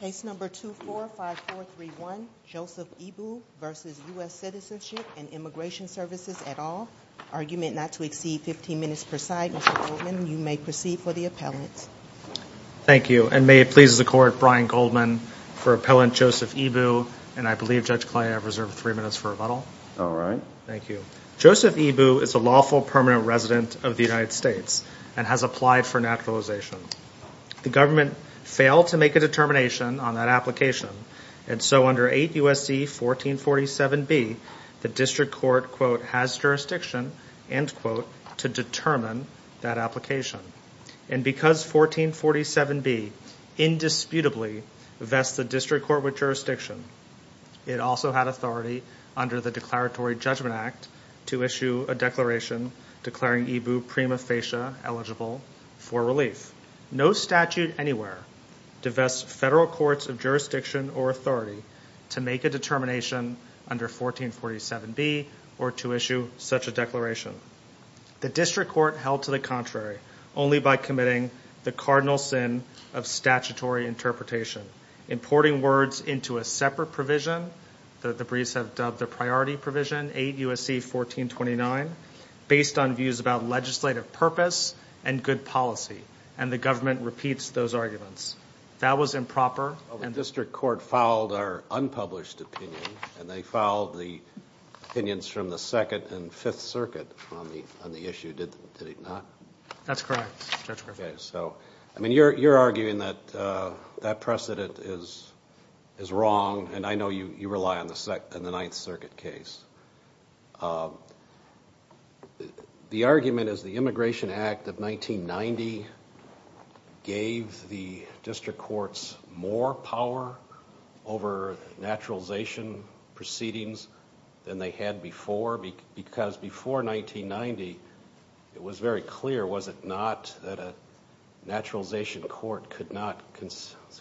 Case number 245431, Joseph Ebu v. U.S. Citizenship and Immigration Services et al. Argument not to exceed 15 minutes per side. Mr. Goldman, you may proceed for the appellant. Thank you and may it please the court Brian Goldman for appellant Joseph Ebu and I believe Judge Kley I've reserved three minutes for rebuttal. All right. Thank you. Joseph Ebu is a lawful permanent resident of the United The government failed to make a determination on that application and so under 8 U.S.C. 1447B the district court quote has jurisdiction end quote to determine that application and because 1447B indisputably vests the district court with jurisdiction it also had authority under the Declaratory Judgment Act to issue a declaration declaring Ebu prima facie eligible for relief. No statute anywhere divests federal courts of jurisdiction or authority to make a determination under 1447B or to issue such a declaration. The district court held to the contrary only by committing the cardinal sin of statutory interpretation importing words into a separate provision that the briefs have dubbed the priority provision 8 U.S.C. 1429 based on views about legislative purpose and good policy and the government repeats those arguments. That was improper and the district court filed our unpublished opinion and they filed the opinions from the Second and Fifth Circuit on the on the issue did it not? That's correct. Okay so I mean you're you're arguing that that precedent is is wrong and I know you you rely on the second and the argument is the Immigration Act of 1990 gave the district courts more power over naturalization proceedings than they had before because before 1990 it was very clear was it not that a naturalization court could not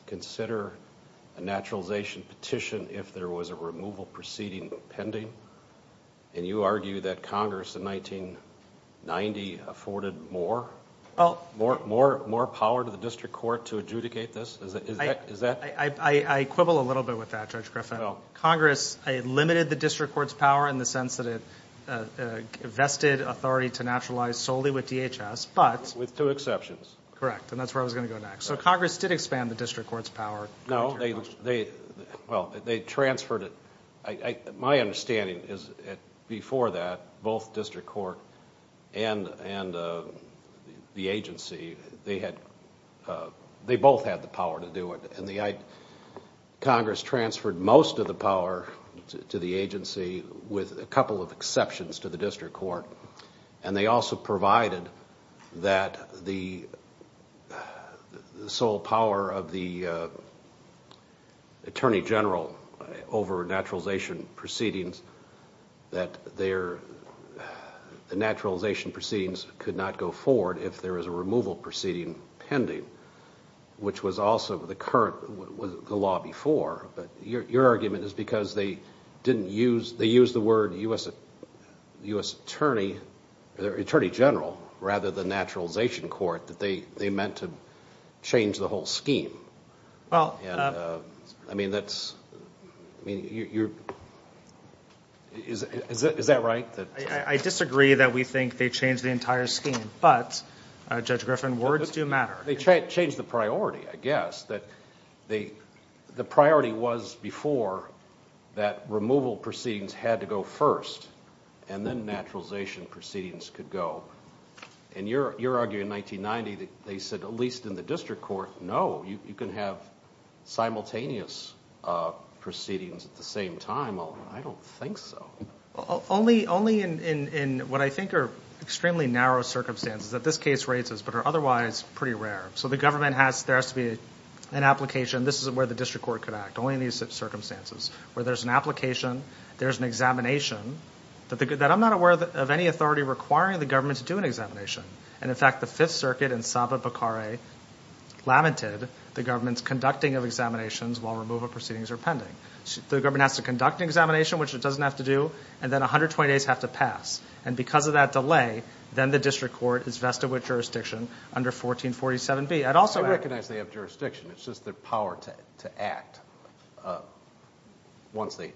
consider a naturalization petition if there was a removal proceeding pending and you argue that Congress in 1990 afforded more well more more more power to the district court to adjudicate this? I quibble a little bit with that Judge Griffin. Congress limited the district courts power in the sense that it vested authority to naturalize solely with DHS but with two exceptions correct and that's where I was going to go next. So Congress did expand the district courts power. No they they well they transferred it. My understanding is before that both district court and and the agency they had they both had the power to do it and the Congress transferred most of the power to the agency with a couple of exceptions to the district court and they also provided that the sole power of the Attorney General over naturalization proceedings that their the naturalization proceedings could not go forward if there is a removal proceeding pending which was also the current was the law before but your argument is because they didn't use they use the word U.S. Attorney Attorney General rather the naturalization court that they meant to change the whole scheme. Well I mean that's I mean you're is that right? I disagree that we think they changed the entire scheme but Judge Griffin words do matter. They changed the priority I guess that they the priority was before that removal proceedings had to go first and then naturalization proceedings could go and you're you're arguing 1990 that they said at least in the district court no you can have simultaneous proceedings at the same time. I don't think so. Only in what I think are extremely narrow circumstances that this case raises but are otherwise pretty rare so the government has there has to be an application this is where the district court could act only in these circumstances where there's an application there's an examination that the good that I'm not aware of any authority requiring the government to do an examination and in fact the Fifth Circuit and Saba Bakare lamented the government's conducting of examinations while removal proceedings are pending. The government has to conduct an examination which it doesn't have to do and then a hundred twenty days have to pass and because of that delay then the district court is vested with jurisdiction under 1447 B. I'd also recognize they have jurisdiction it's just their power to act once they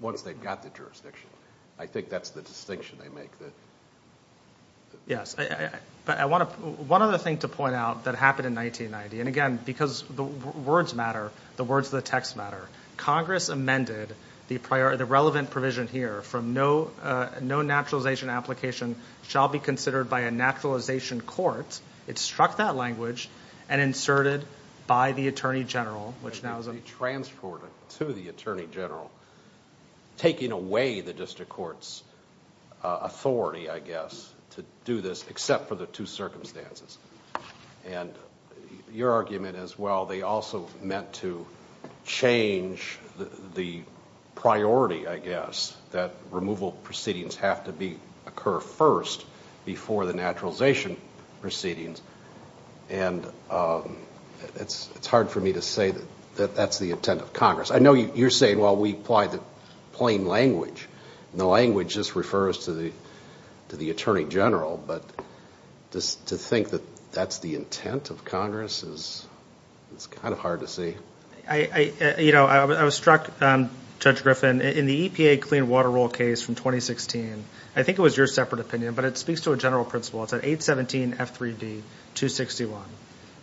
once they've got the jurisdiction I think that's the distinction they make. Yes but I want to one other thing to point out that happened in 1990 and again because the words matter the words of the text matter Congress amended the prior the relevant provision here from no no naturalization application shall be considered by a naturalization court it struck that language and inserted by the Attorney General which now is a transported to the Attorney General taking away the district courts authority I guess to do this except for the two circumstances and your argument as well they also meant to change the priority I guess that removal proceedings have to be occur first before the naturalization proceedings and it's it's hard for me to say that that's the intent of Congress I know you're saying while we apply the plain language and the language just refers to the to the Attorney General but just to think that that's the intent of Congress is it's kind of hard to see. I you know I was struck Judge Griffin in the EPA clean water roll case from 2016 I think it was your separate opinion but it speaks to a general principle it's at 817 f3d 261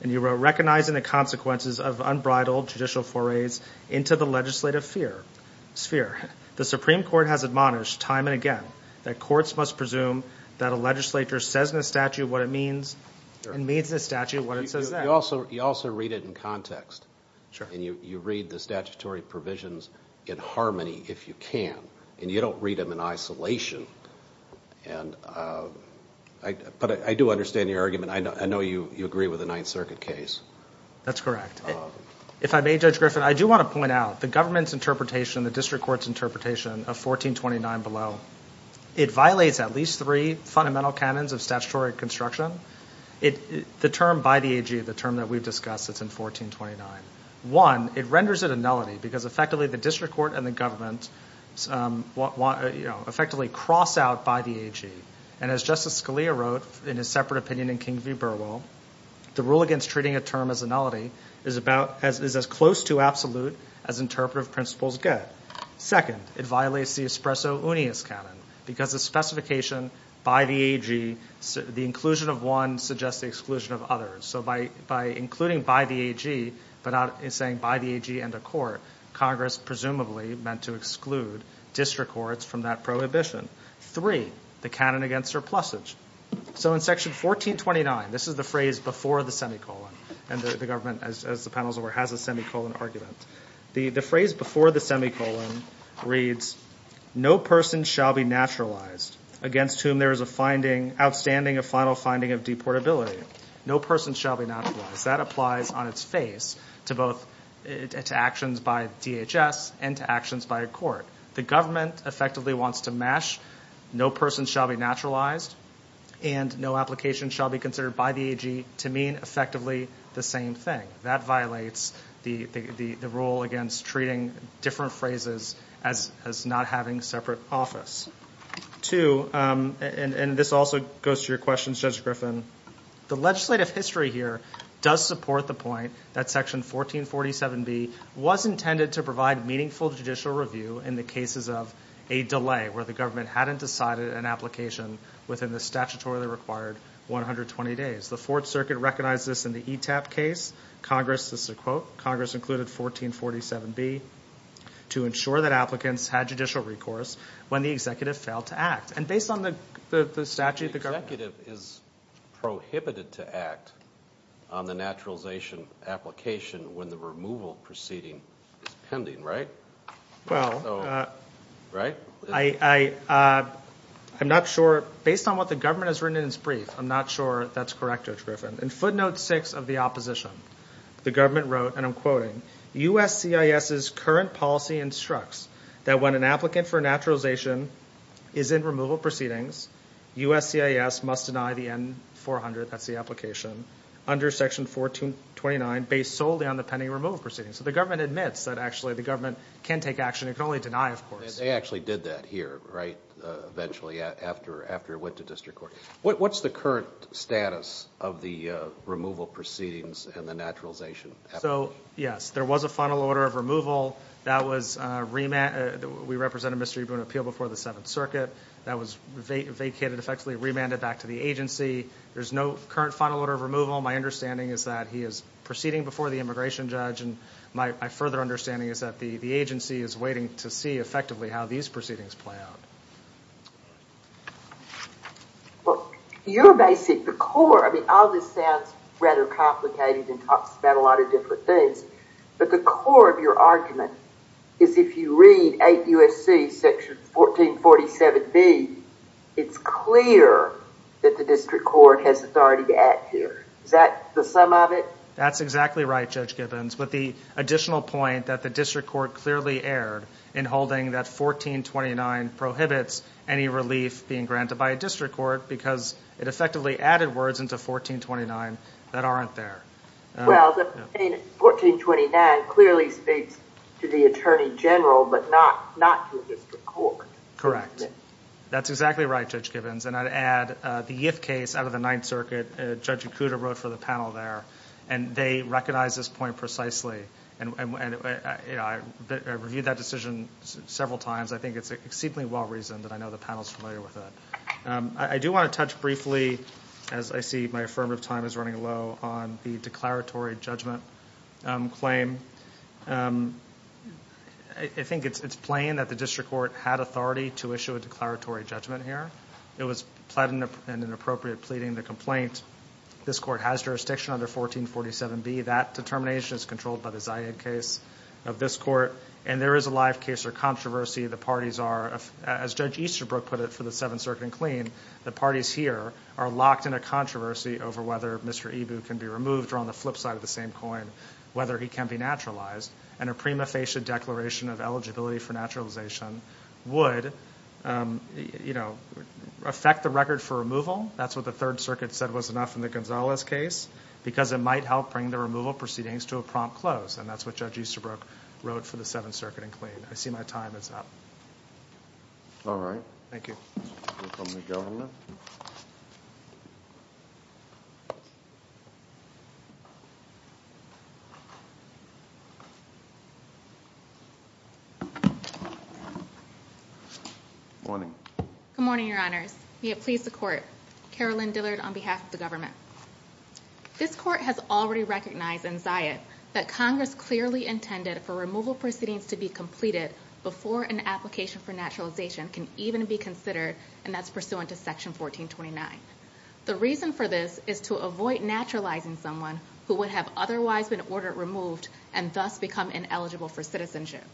and you were recognizing the consequences of unbridled judicial forays into the legislative fear sphere the Supreme Court has admonished time and again that courts must presume that a legislature says in a statute what it means and means the statute what it says also you also read it in context and you you read the statutory provisions in harmony if you can and you don't read them in isolation and I but I do understand your argument I know you you agree with the Ninth Circuit case that's correct if I may judge Griffin I do want to point out the government's interpretation the district courts interpretation of 1429 below it violates at least three fundamental canons of statutory construction it the term by the AG the term that we've discussed it's in 1429 one it renders it a nullity because effectively the district court and the government want you know effectively cross out by the AG and as Justice Scalia wrote in his separate opinion in King v Burwell the rule against treating a term as a nullity is about as is as close to absolute as interpretive principles get second it violates the espresso Ooney is canon because the specification by the AG the inclusion of one suggests the exclusion of others so by by including by the AG but not in saying by the AG and a court Congress presumably meant to exclude district courts from that prohibition three the canon against surplus age so in section 1429 this is the phrase before the semicolon and the government as the panels over has a semicolon argument the the phrase before the semicolon reads no person shall be naturalized against whom there is a finding outstanding a final finding of deportability no person shall be not applies on its face to both its actions by DHS and actions by a court the government effectively wants to mash no person shall be naturalized and no application shall be considered by the AG to mean effectively the same thing that violates the the rule against treating different phrases as as not having separate office to and this also goes to your questions judge Griffin the legislative history here does support the point that section 1447 be was intended to provide meaningful judicial review in the cases of a delay where the government hadn't decided an application within the statutorily required 120 days the Fourth Circuit recognizes in the e-tap case Congress is a quote Congress included 1447 be to ensure that applicants had judicial recourse when the executive failed to act and based on the statute the executive is prohibited to act on the naturalization application when the removal proceeding is pending right well right I I I'm not sure based on what the government has written in its brief I'm not sure that's correct judge Griffin and footnote six of the opposition the government wrote and I'm quoting USC is is current policy instructs that when an applicant for naturalization is in removal proceedings USC is must deny the n-400 that's the application under section 1429 based solely on the pending removal proceeding so the government admits that actually the government can take action you can only deny of course they actually did that here right eventually after after it went to district court what's the current status of the removal proceedings and the naturalization so yes there was a final order of removal that was remanded we represent a mystery going to appeal before the Seventh Circuit that was vacated effectively remanded back to the agency there's no current final order of removal my understanding is that he is proceeding before the immigration judge and my further understanding is that the the agency is waiting to see effectively how these proceedings play out well you're basic the core I mean all this sounds rather complicated and talks about a lot of different things but the core of your argument is if you read 8 USC section 1447 B it's clear that the district court has authority to act here is that the sum of it that's exactly right judge Gibbons but the additional point that the district court clearly erred in holding that 1429 prohibits any relief being granted by a district court because it effectively added words into 1429 that aren't there well 1429 clearly speaks to the Attorney General but not not correct that's exactly right judge Gibbons and I'd add the if case out of the Ninth Circuit judge Akuta wrote for the panel there and they recognize this point precisely and when I reviewed that decision several times I think it's exceedingly well reasoned that I know the panel's familiar with that I do want to touch briefly as I see my affirmative time is running low on the declaratory judgment claim I think it's it's plain that the district court had authority to issue a declaratory judgment here it was platinum and an appropriate pleading the complaint this court has jurisdiction under 1447 B that determination is controlled by the Zayed case of this court and there is a live case or controversy the parties are as judge Easterbrook put it for the Seventh Circuit and clean the parties here are locked in a controversy over whether Mr. Ibu can be removed or on the flip side of the same coin whether he can be naturalized and a prima facie declaration of eligibility for naturalization would you know affect the record for removal that's what the Third Circuit said was enough in the Gonzalez case because it might help bring the removal proceedings to a prompt close and that's what judge Easterbrook wrote for the Seventh Circuit and clean I see my time it's up all right thank you morning good morning your honors may it please the court Carolyn Dillard on behalf of the government this court has already recognized in Zayed that Congress clearly intended for removal proceedings to be completed before an application for naturalization can even be considered and that's pursuant to section 1429 the reason for this is to avoid naturalizing someone who would have otherwise been ordered removed and thus become ineligible for citizenship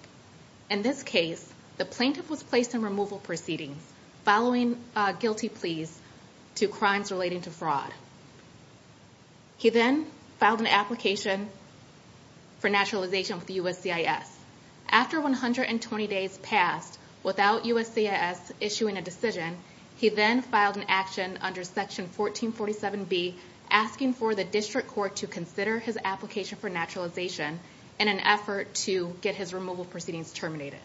in this case the plaintiff was placed in removal proceedings following guilty pleas to crimes relating to fraud he then filed an application for naturalization with USCIS after 120 days passed without USCIS issuing a decision he then filed an action under section 1447 be asking for the district court to consider his application for naturalization in an effort to get his removal proceedings terminated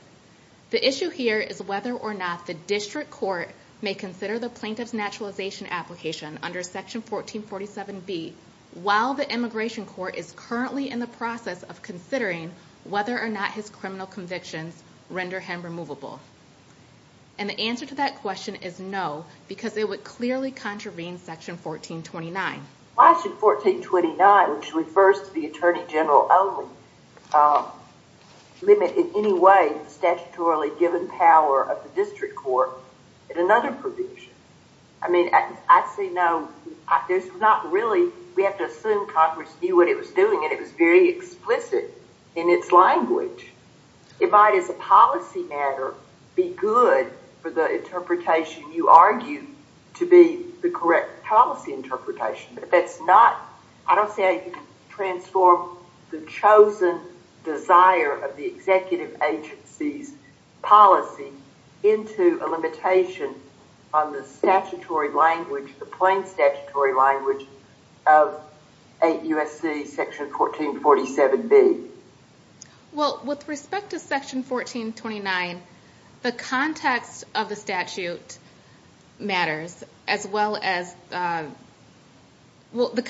the issue here is whether or not the district court may consider the plaintiff's application under section 1447 be while the immigration court is currently in the process of considering whether or not his criminal convictions render him removable and the answer to that question is no because they would clearly contravene section 1429 why should 1429 which refers to the Attorney General only limit in any way statutorily given power of the district court in another provision I mean I'd say no there's not really we have to assume Congress knew what it was doing and it was very explicit in its language it might as a policy matter be good for the interpretation you argue to be the correct policy interpretation but that's not I don't say transform the chosen desire of the executive agency's policy into a limitation on the statutory language the plain statutory language of 8 USC section 1447 be well with respect to section 1429 the context of the statute matters as well as well the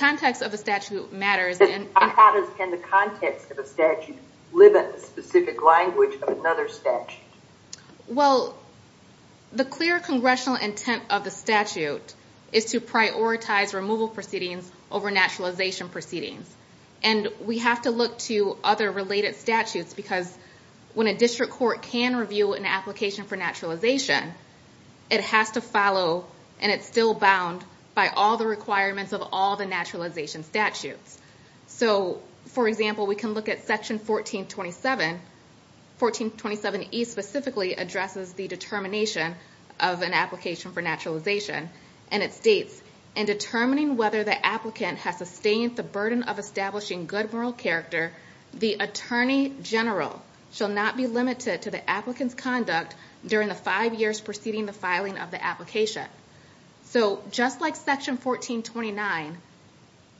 clear congressional intent of the statute is to prioritize removal proceedings over naturalization proceedings and we have to look to other related statutes because when a district court can review an application for naturalization it has to follow and it's still bound by all the requirements of all the naturalization statutes so for example we can look at section 1427 1427 E specifically addresses the determination of an application for naturalization and it states in determining whether the applicant has sustained the burden of establishing good moral character the Attorney General shall not be limited to the applicant's conduct during the five years preceding the filing of the application so just like section 1429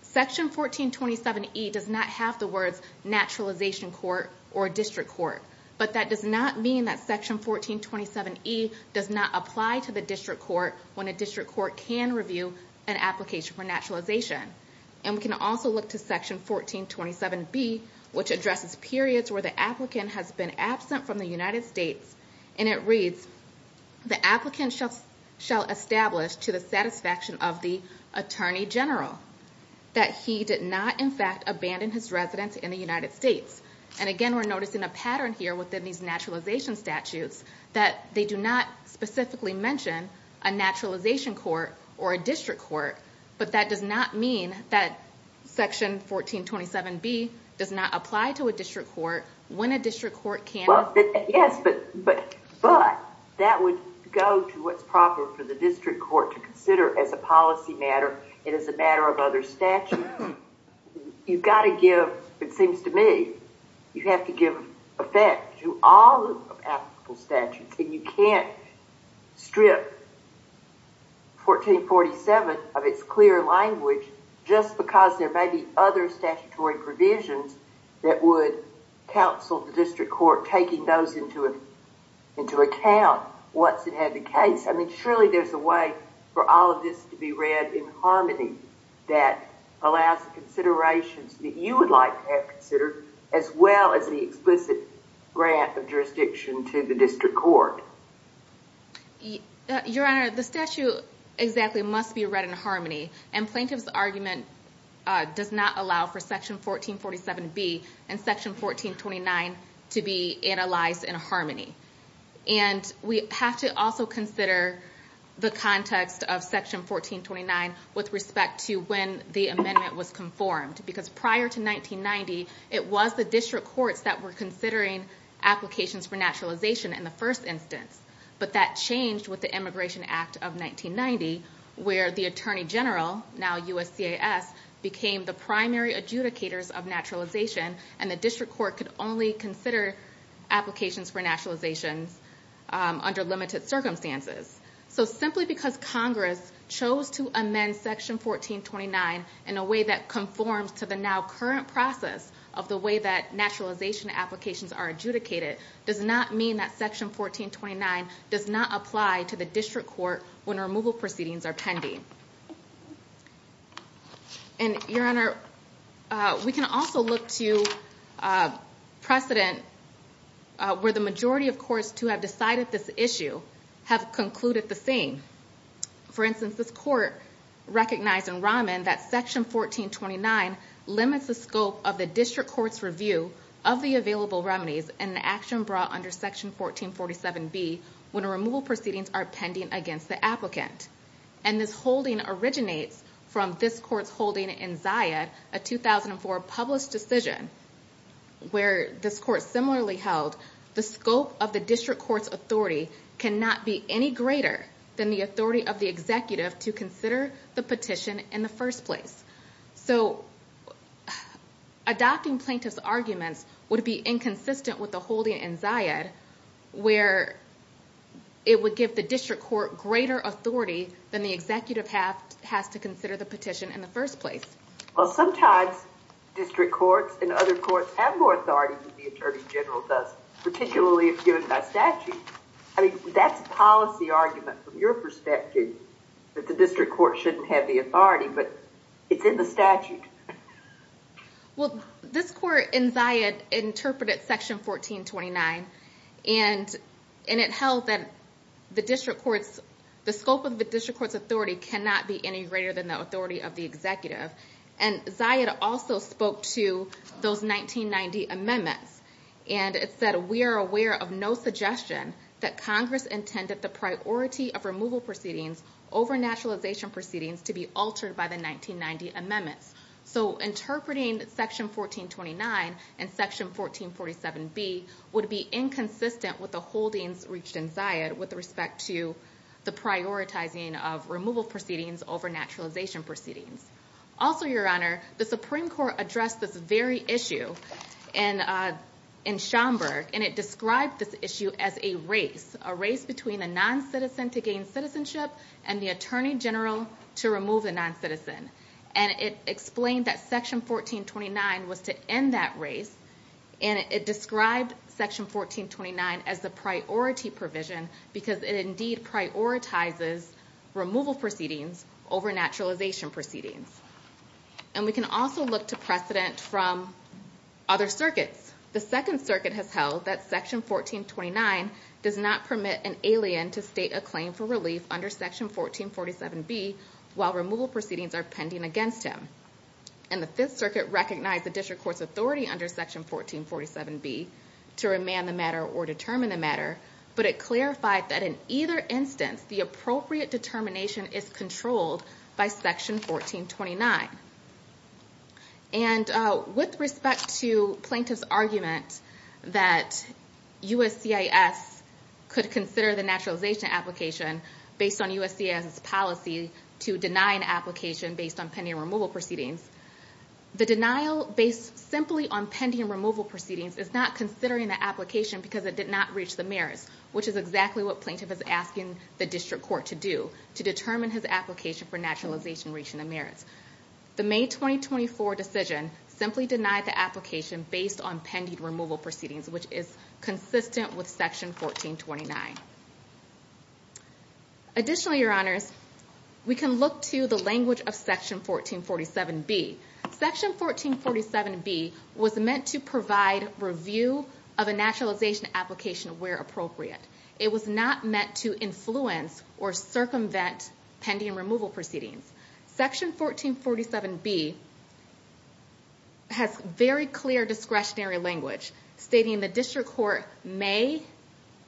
section 1427 E does not have the words naturalization court or district court but that does not mean that section 1427 E does not apply to the district court when a district court can review an application for naturalization and can also look to section 1427 B which addresses periods where the applicant has been absent from the United States and it reads the applicant shall establish to the satisfaction of the Attorney General that he did not in fact abandon his residence in the United States and again we're noticing a pattern here within these naturalization statutes that they do not specifically mention a naturalization court or a district court but that does not mean that section 1427 B does not apply to a district court when a district court can yes but but but that would go to what's proper for the district court to consider as a policy matter it is a matter of other statute you've got to give it seems to me you have to give effect to all statutes and you can't strip 1447 of its clear language just because there may be other statutory provisions that would counsel the district court taking those into it into account what's it had the case I mean surely there's a way for all of this to be read in harmony that allows considerations that you would like to have considered as well as the explicit grant of jurisdiction to the district court your honor the statute exactly must be read in harmony and plaintiff's argument does not allow for section 1447 B and section 1429 to be analyzed in harmony and we have to also consider the context of section 1429 with respect to when the amendment was conformed because prior to 1990 it was the district courts that were considering applications for naturalization in the first instance but that changed with the Immigration Act of 1990 where the Attorney General now USC AS became the primary adjudicators of naturalization and the district court could only consider applications for naturalization under limited circumstances so simply because Congress chose to amend section 1429 in a way that conforms to the now current process of the way that naturalization applications are adjudicated does not mean that section 1429 does not apply to the district court when removal proceedings are pending and your honor we can also look to precedent where the majority of course to have decided this issue have concluded the same for instance this court recognized in Rahman that section 1429 limits the scope of the district court's review of the available remedies and action brought under section 1447 B when a removal proceedings are pending against the applicant and this holding originates from this court's holding in Ziad a 2004 published decision where this court similarly held the scope of the district court's authority cannot be any greater than the authority of the executive to consider the petition in the first place so adopting plaintiff's arguments would be inconsistent with the holding in Ziad where it would give the district court greater authority than the executive have has to consider the petition in the first place well sometimes district courts and other courts have more authority than the Attorney General does particularly if given by statute I mean that's policy argument from your perspective that the district court shouldn't have the authority but it's in the statute well this court in Ziad interpreted section 1429 and and it held that the district courts the scope of the district court's authority cannot be any greater than the authority of the executive and Ziad also spoke to those 1990 amendments and it said we are aware of no suggestion that Congress intended the priority of removal proceedings over naturalization proceedings to be altered by the 1990 amendments so interpreting section 1429 and section 1447 B would be inconsistent with the holdings reached in Ziad with respect to the prioritizing of removal proceedings over naturalization proceedings also your the Supreme Court addressed this very issue and in Schomburg and it described this issue as a race a race between a non-citizen to gain citizenship and the Attorney General to remove a non-citizen and it explained that section 1429 was to end that race and it described section 1429 as the priority provision because it indeed prioritizes removal proceedings over naturalization proceedings and we can also look to precedent from other circuits the Second Circuit has held that section 1429 does not permit an alien to state a claim for relief under section 1447 B while removal proceedings are pending against him and the Fifth Circuit recognized the district court's authority under section 1447 B to remand the matter or determine the matter but it clarified that in either instance the appropriate determination is controlled by section 1429 and with respect to plaintiff's argument that USCIS could consider the naturalization application based on USCIS policy to deny an application based on pending removal proceedings the denial based simply on pending removal proceedings is not considering the application because it did not reach the which is exactly what plaintiff is asking the district court to do to determine his application for naturalization reaching the merits the May 2024 decision simply denied the application based on pending removal proceedings which is consistent with section 1429 additionally your honors we can look to the language of section 1447 B section 1447 B was meant to provide review of a naturalization application where appropriate it was not meant to influence or circumvent pending removal proceedings section 1447 B has very clear discretionary language stating the district court may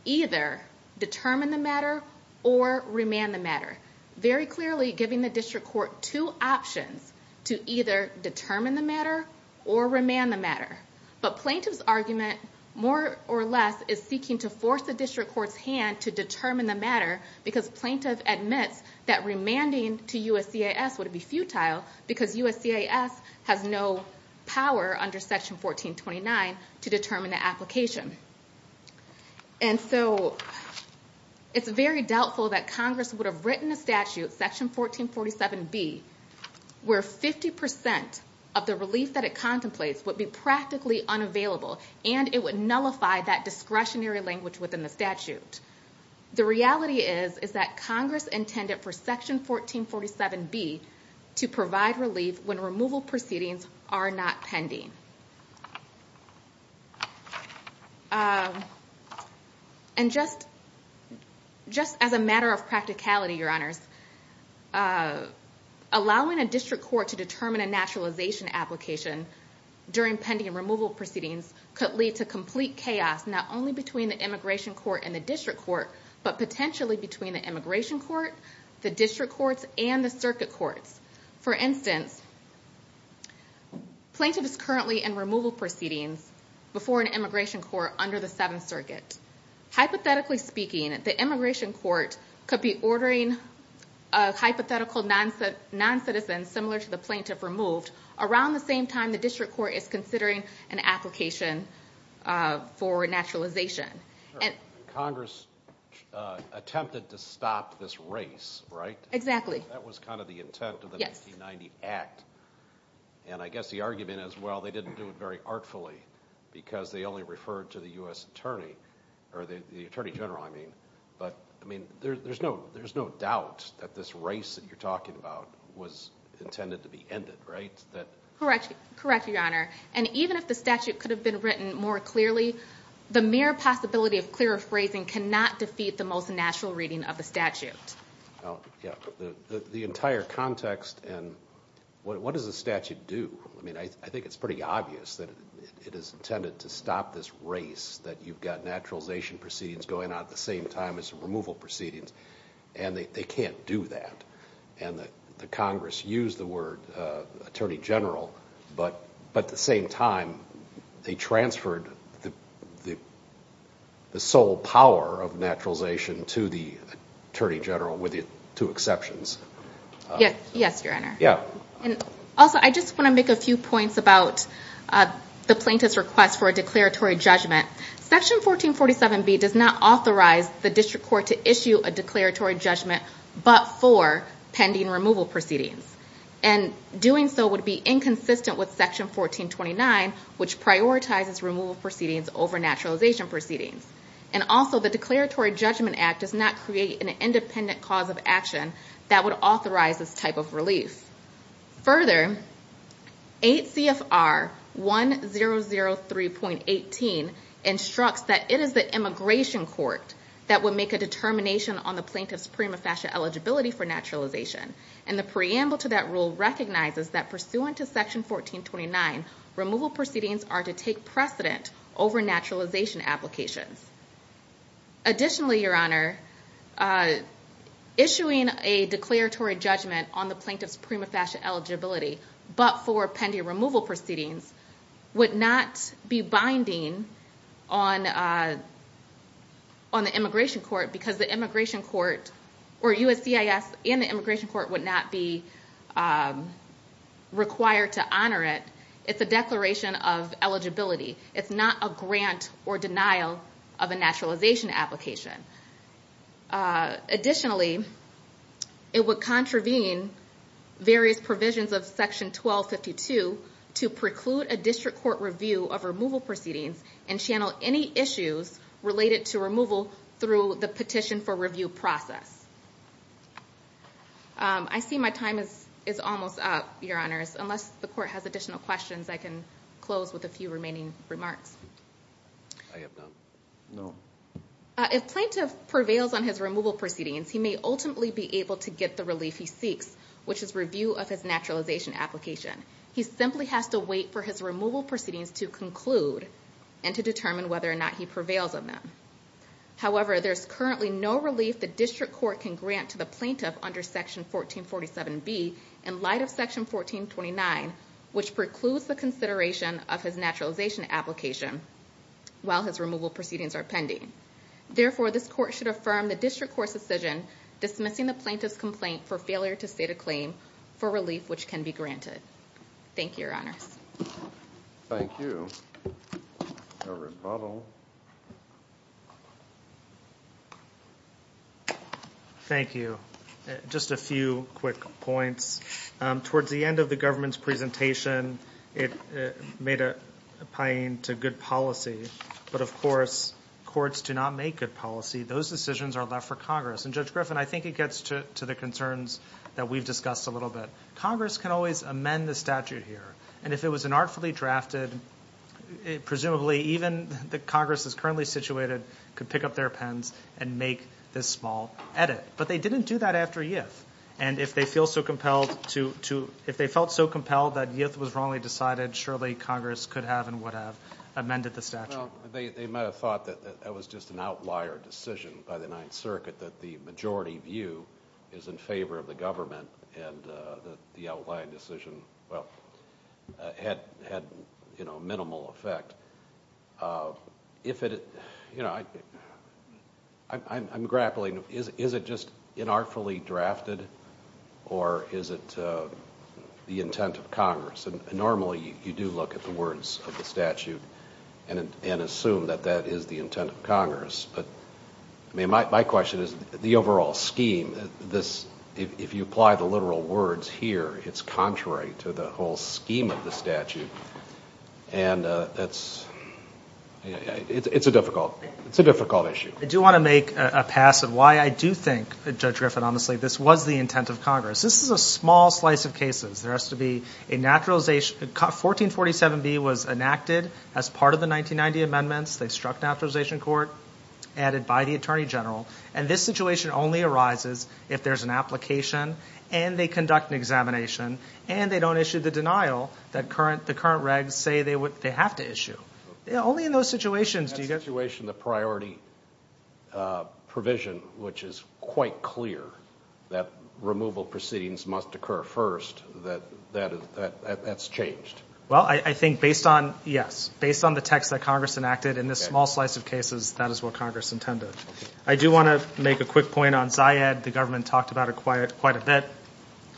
either determine the matter or remand the matter very clearly giving the district court two options to either determine the matter or remand the matter but plaintiff's argument more or less is seeking to force the district court's hand to determine the matter because plaintiff admits that remanding to USCIS would be futile because USCIS has no power under section 1429 to determine the application and so it's very doubtful that Congress would have statute section 1447 B where 50% of the relief that it contemplates would be practically unavailable and it would nullify that discretionary language within the statute the reality is is that Congress intended for section 1447 B to provide relief when removal proceedings are not pending and just just as a matter of practicality your honors allowing a district court to determine a naturalization application during pending removal proceedings could lead to complete chaos not only between the immigration court and the district court but potentially between the immigration court the district courts and the circuit courts for instance plaintiff is currently in removal proceedings before an immigration court under the Seventh Circuit hypothetically speaking at the immigration court could be ordering a hypothetical non-citizen similar to the plaintiff removed around the same time the district court is considering an application for naturalization. Congress attempted to stop this race right? Exactly. That was kind of the intent of the 1990 act and I guess the argument as well they didn't do it very artfully because they only referred to the US but I mean there's no there's no doubt that this race that you're talking about was intended to be ended right? Correct your honor and even if the statute could have been written more clearly the mere possibility of clearer phrasing cannot defeat the most natural reading of the statute. The entire context and what does the statute do I mean I think it's pretty obvious that it is intended to stop this race that you've got naturalization proceedings going on at the same time as removal proceedings and they can't do that and that the Congress used the word Attorney General but at the same time they transferred the sole power of naturalization to the Attorney General with it two exceptions. Yes your honor yeah and also I just want to make a few points about the plaintiff's request for a declaratory judgment. Section 1447B does not authorize the district court to issue a declaratory judgment but for pending removal proceedings and doing so would be inconsistent with section 1429 which prioritizes removal proceedings over naturalization proceedings and also the declaratory judgment act does not create an independent cause of action that would authorize this type of relief. Further 8 CFR 1003.18 instructs that it is the immigration court that would make a determination on the plaintiff's prima facie eligibility for naturalization and the preamble to that rule recognizes that pursuant to section 1429 removal proceedings are to take precedent over naturalization applications. Additionally your honor issuing a declaratory judgment on the plaintiff's prima facie eligibility but for pending removal proceedings would not be binding on on the immigration court because the immigration court or USCIS and the immigration court would not be required to honor it. It's a declaration of eligibility it's not a grant or denial of a naturalization application. Additionally it would contravene various provisions of section 1252 to preclude a district court review of removal proceedings and channel any issues related to removal through the petition for review process. I see my time is is almost up your honors unless the court has additional questions I can close with a few remaining remarks. If plaintiff prevails on his removal proceedings he may ultimately be able to get the relief he seeks which is review of his naturalization application. He simply has to wait for his removal proceedings to conclude and to determine whether or not he prevails on them. However there's currently no relief the district court can grant to the plaintiff under section 1447 B in light of section 1429 which precludes the consideration of his naturalization application while his removal proceedings are pending. Therefore this court should affirm the district court's decision dismissing the plaintiff's complaint for failure to state a claim for relief which can be granted. Thank Towards the end of the government's presentation it made a point to good policy but of course courts do not make good policy those decisions are left for Congress and Judge Griffin I think it gets to the concerns that we've discussed a little bit. Congress can always amend the statute here and if it was an artfully drafted it presumably even the Congress is currently situated could pick up their pens and make this small edit but they didn't do that after Yift and if they feel so compelled to if they felt so compelled that Yift was wrongly decided surely Congress could have and would have amended the statute. They might have thought that that was just an outlier decision by the Ninth Circuit that the majority view is in favor of the government and the outlying decision well had had you know minimal effect. If it you know I'm grappling is it just in artfully drafted or is it the intent of Congress and normally you do look at the words of the statute and and assume that that is the intent of Congress but I mean my question is the overall scheme this if you apply the literal words here it's contrary to the whole scheme of the statute and that's it's a difficult it's a difficult issue. I do want to make a pass of why I do think Judge Griffin honestly this was the intent of Congress this is a small slice of cases there has to be a naturalization 1447 B was enacted as part of the 1990 amendments they struck naturalization court added by the Attorney General and this situation only arises if there's an application and they conduct an examination and they don't issue the denial that current the current regs say they would they have to issue only in those situations do you get a situation the priority provision which is quite clear that removal proceedings must occur first that that's changed. Well I think based on yes based on the text that Congress enacted in this small slice of cases that is what Congress intended. I do want to make a quick point on Ziad the government talked about it quiet quite a bit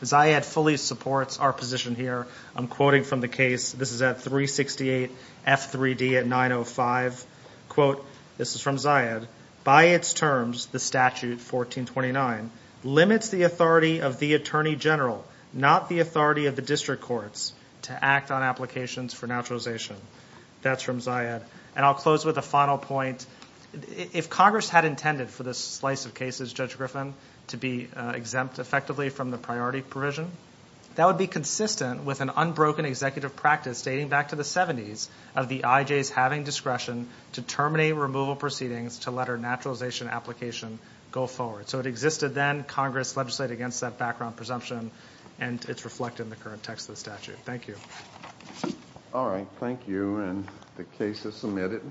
Ziad fully supports our position here I'm quoting from the case this is at 368 F3D at 905 quote this is from Ziad by its terms the statute 1429 limits the authority of the Attorney General not the authority of the district courts to act on applications for naturalization that's from Ziad and I'll close with a final point if Congress had intended for this slice of cases Judge Griffin to be exempt effectively from the priority provision that would be consistent with an unbroken executive practice dating back to the 70s of the IJs having discretion to terminate removal proceedings to let our naturalization application go forward so it existed then Congress legislate against that background presumption and it's reflected in the current text of the statute. Thank you. All right thank you and the case is submitted.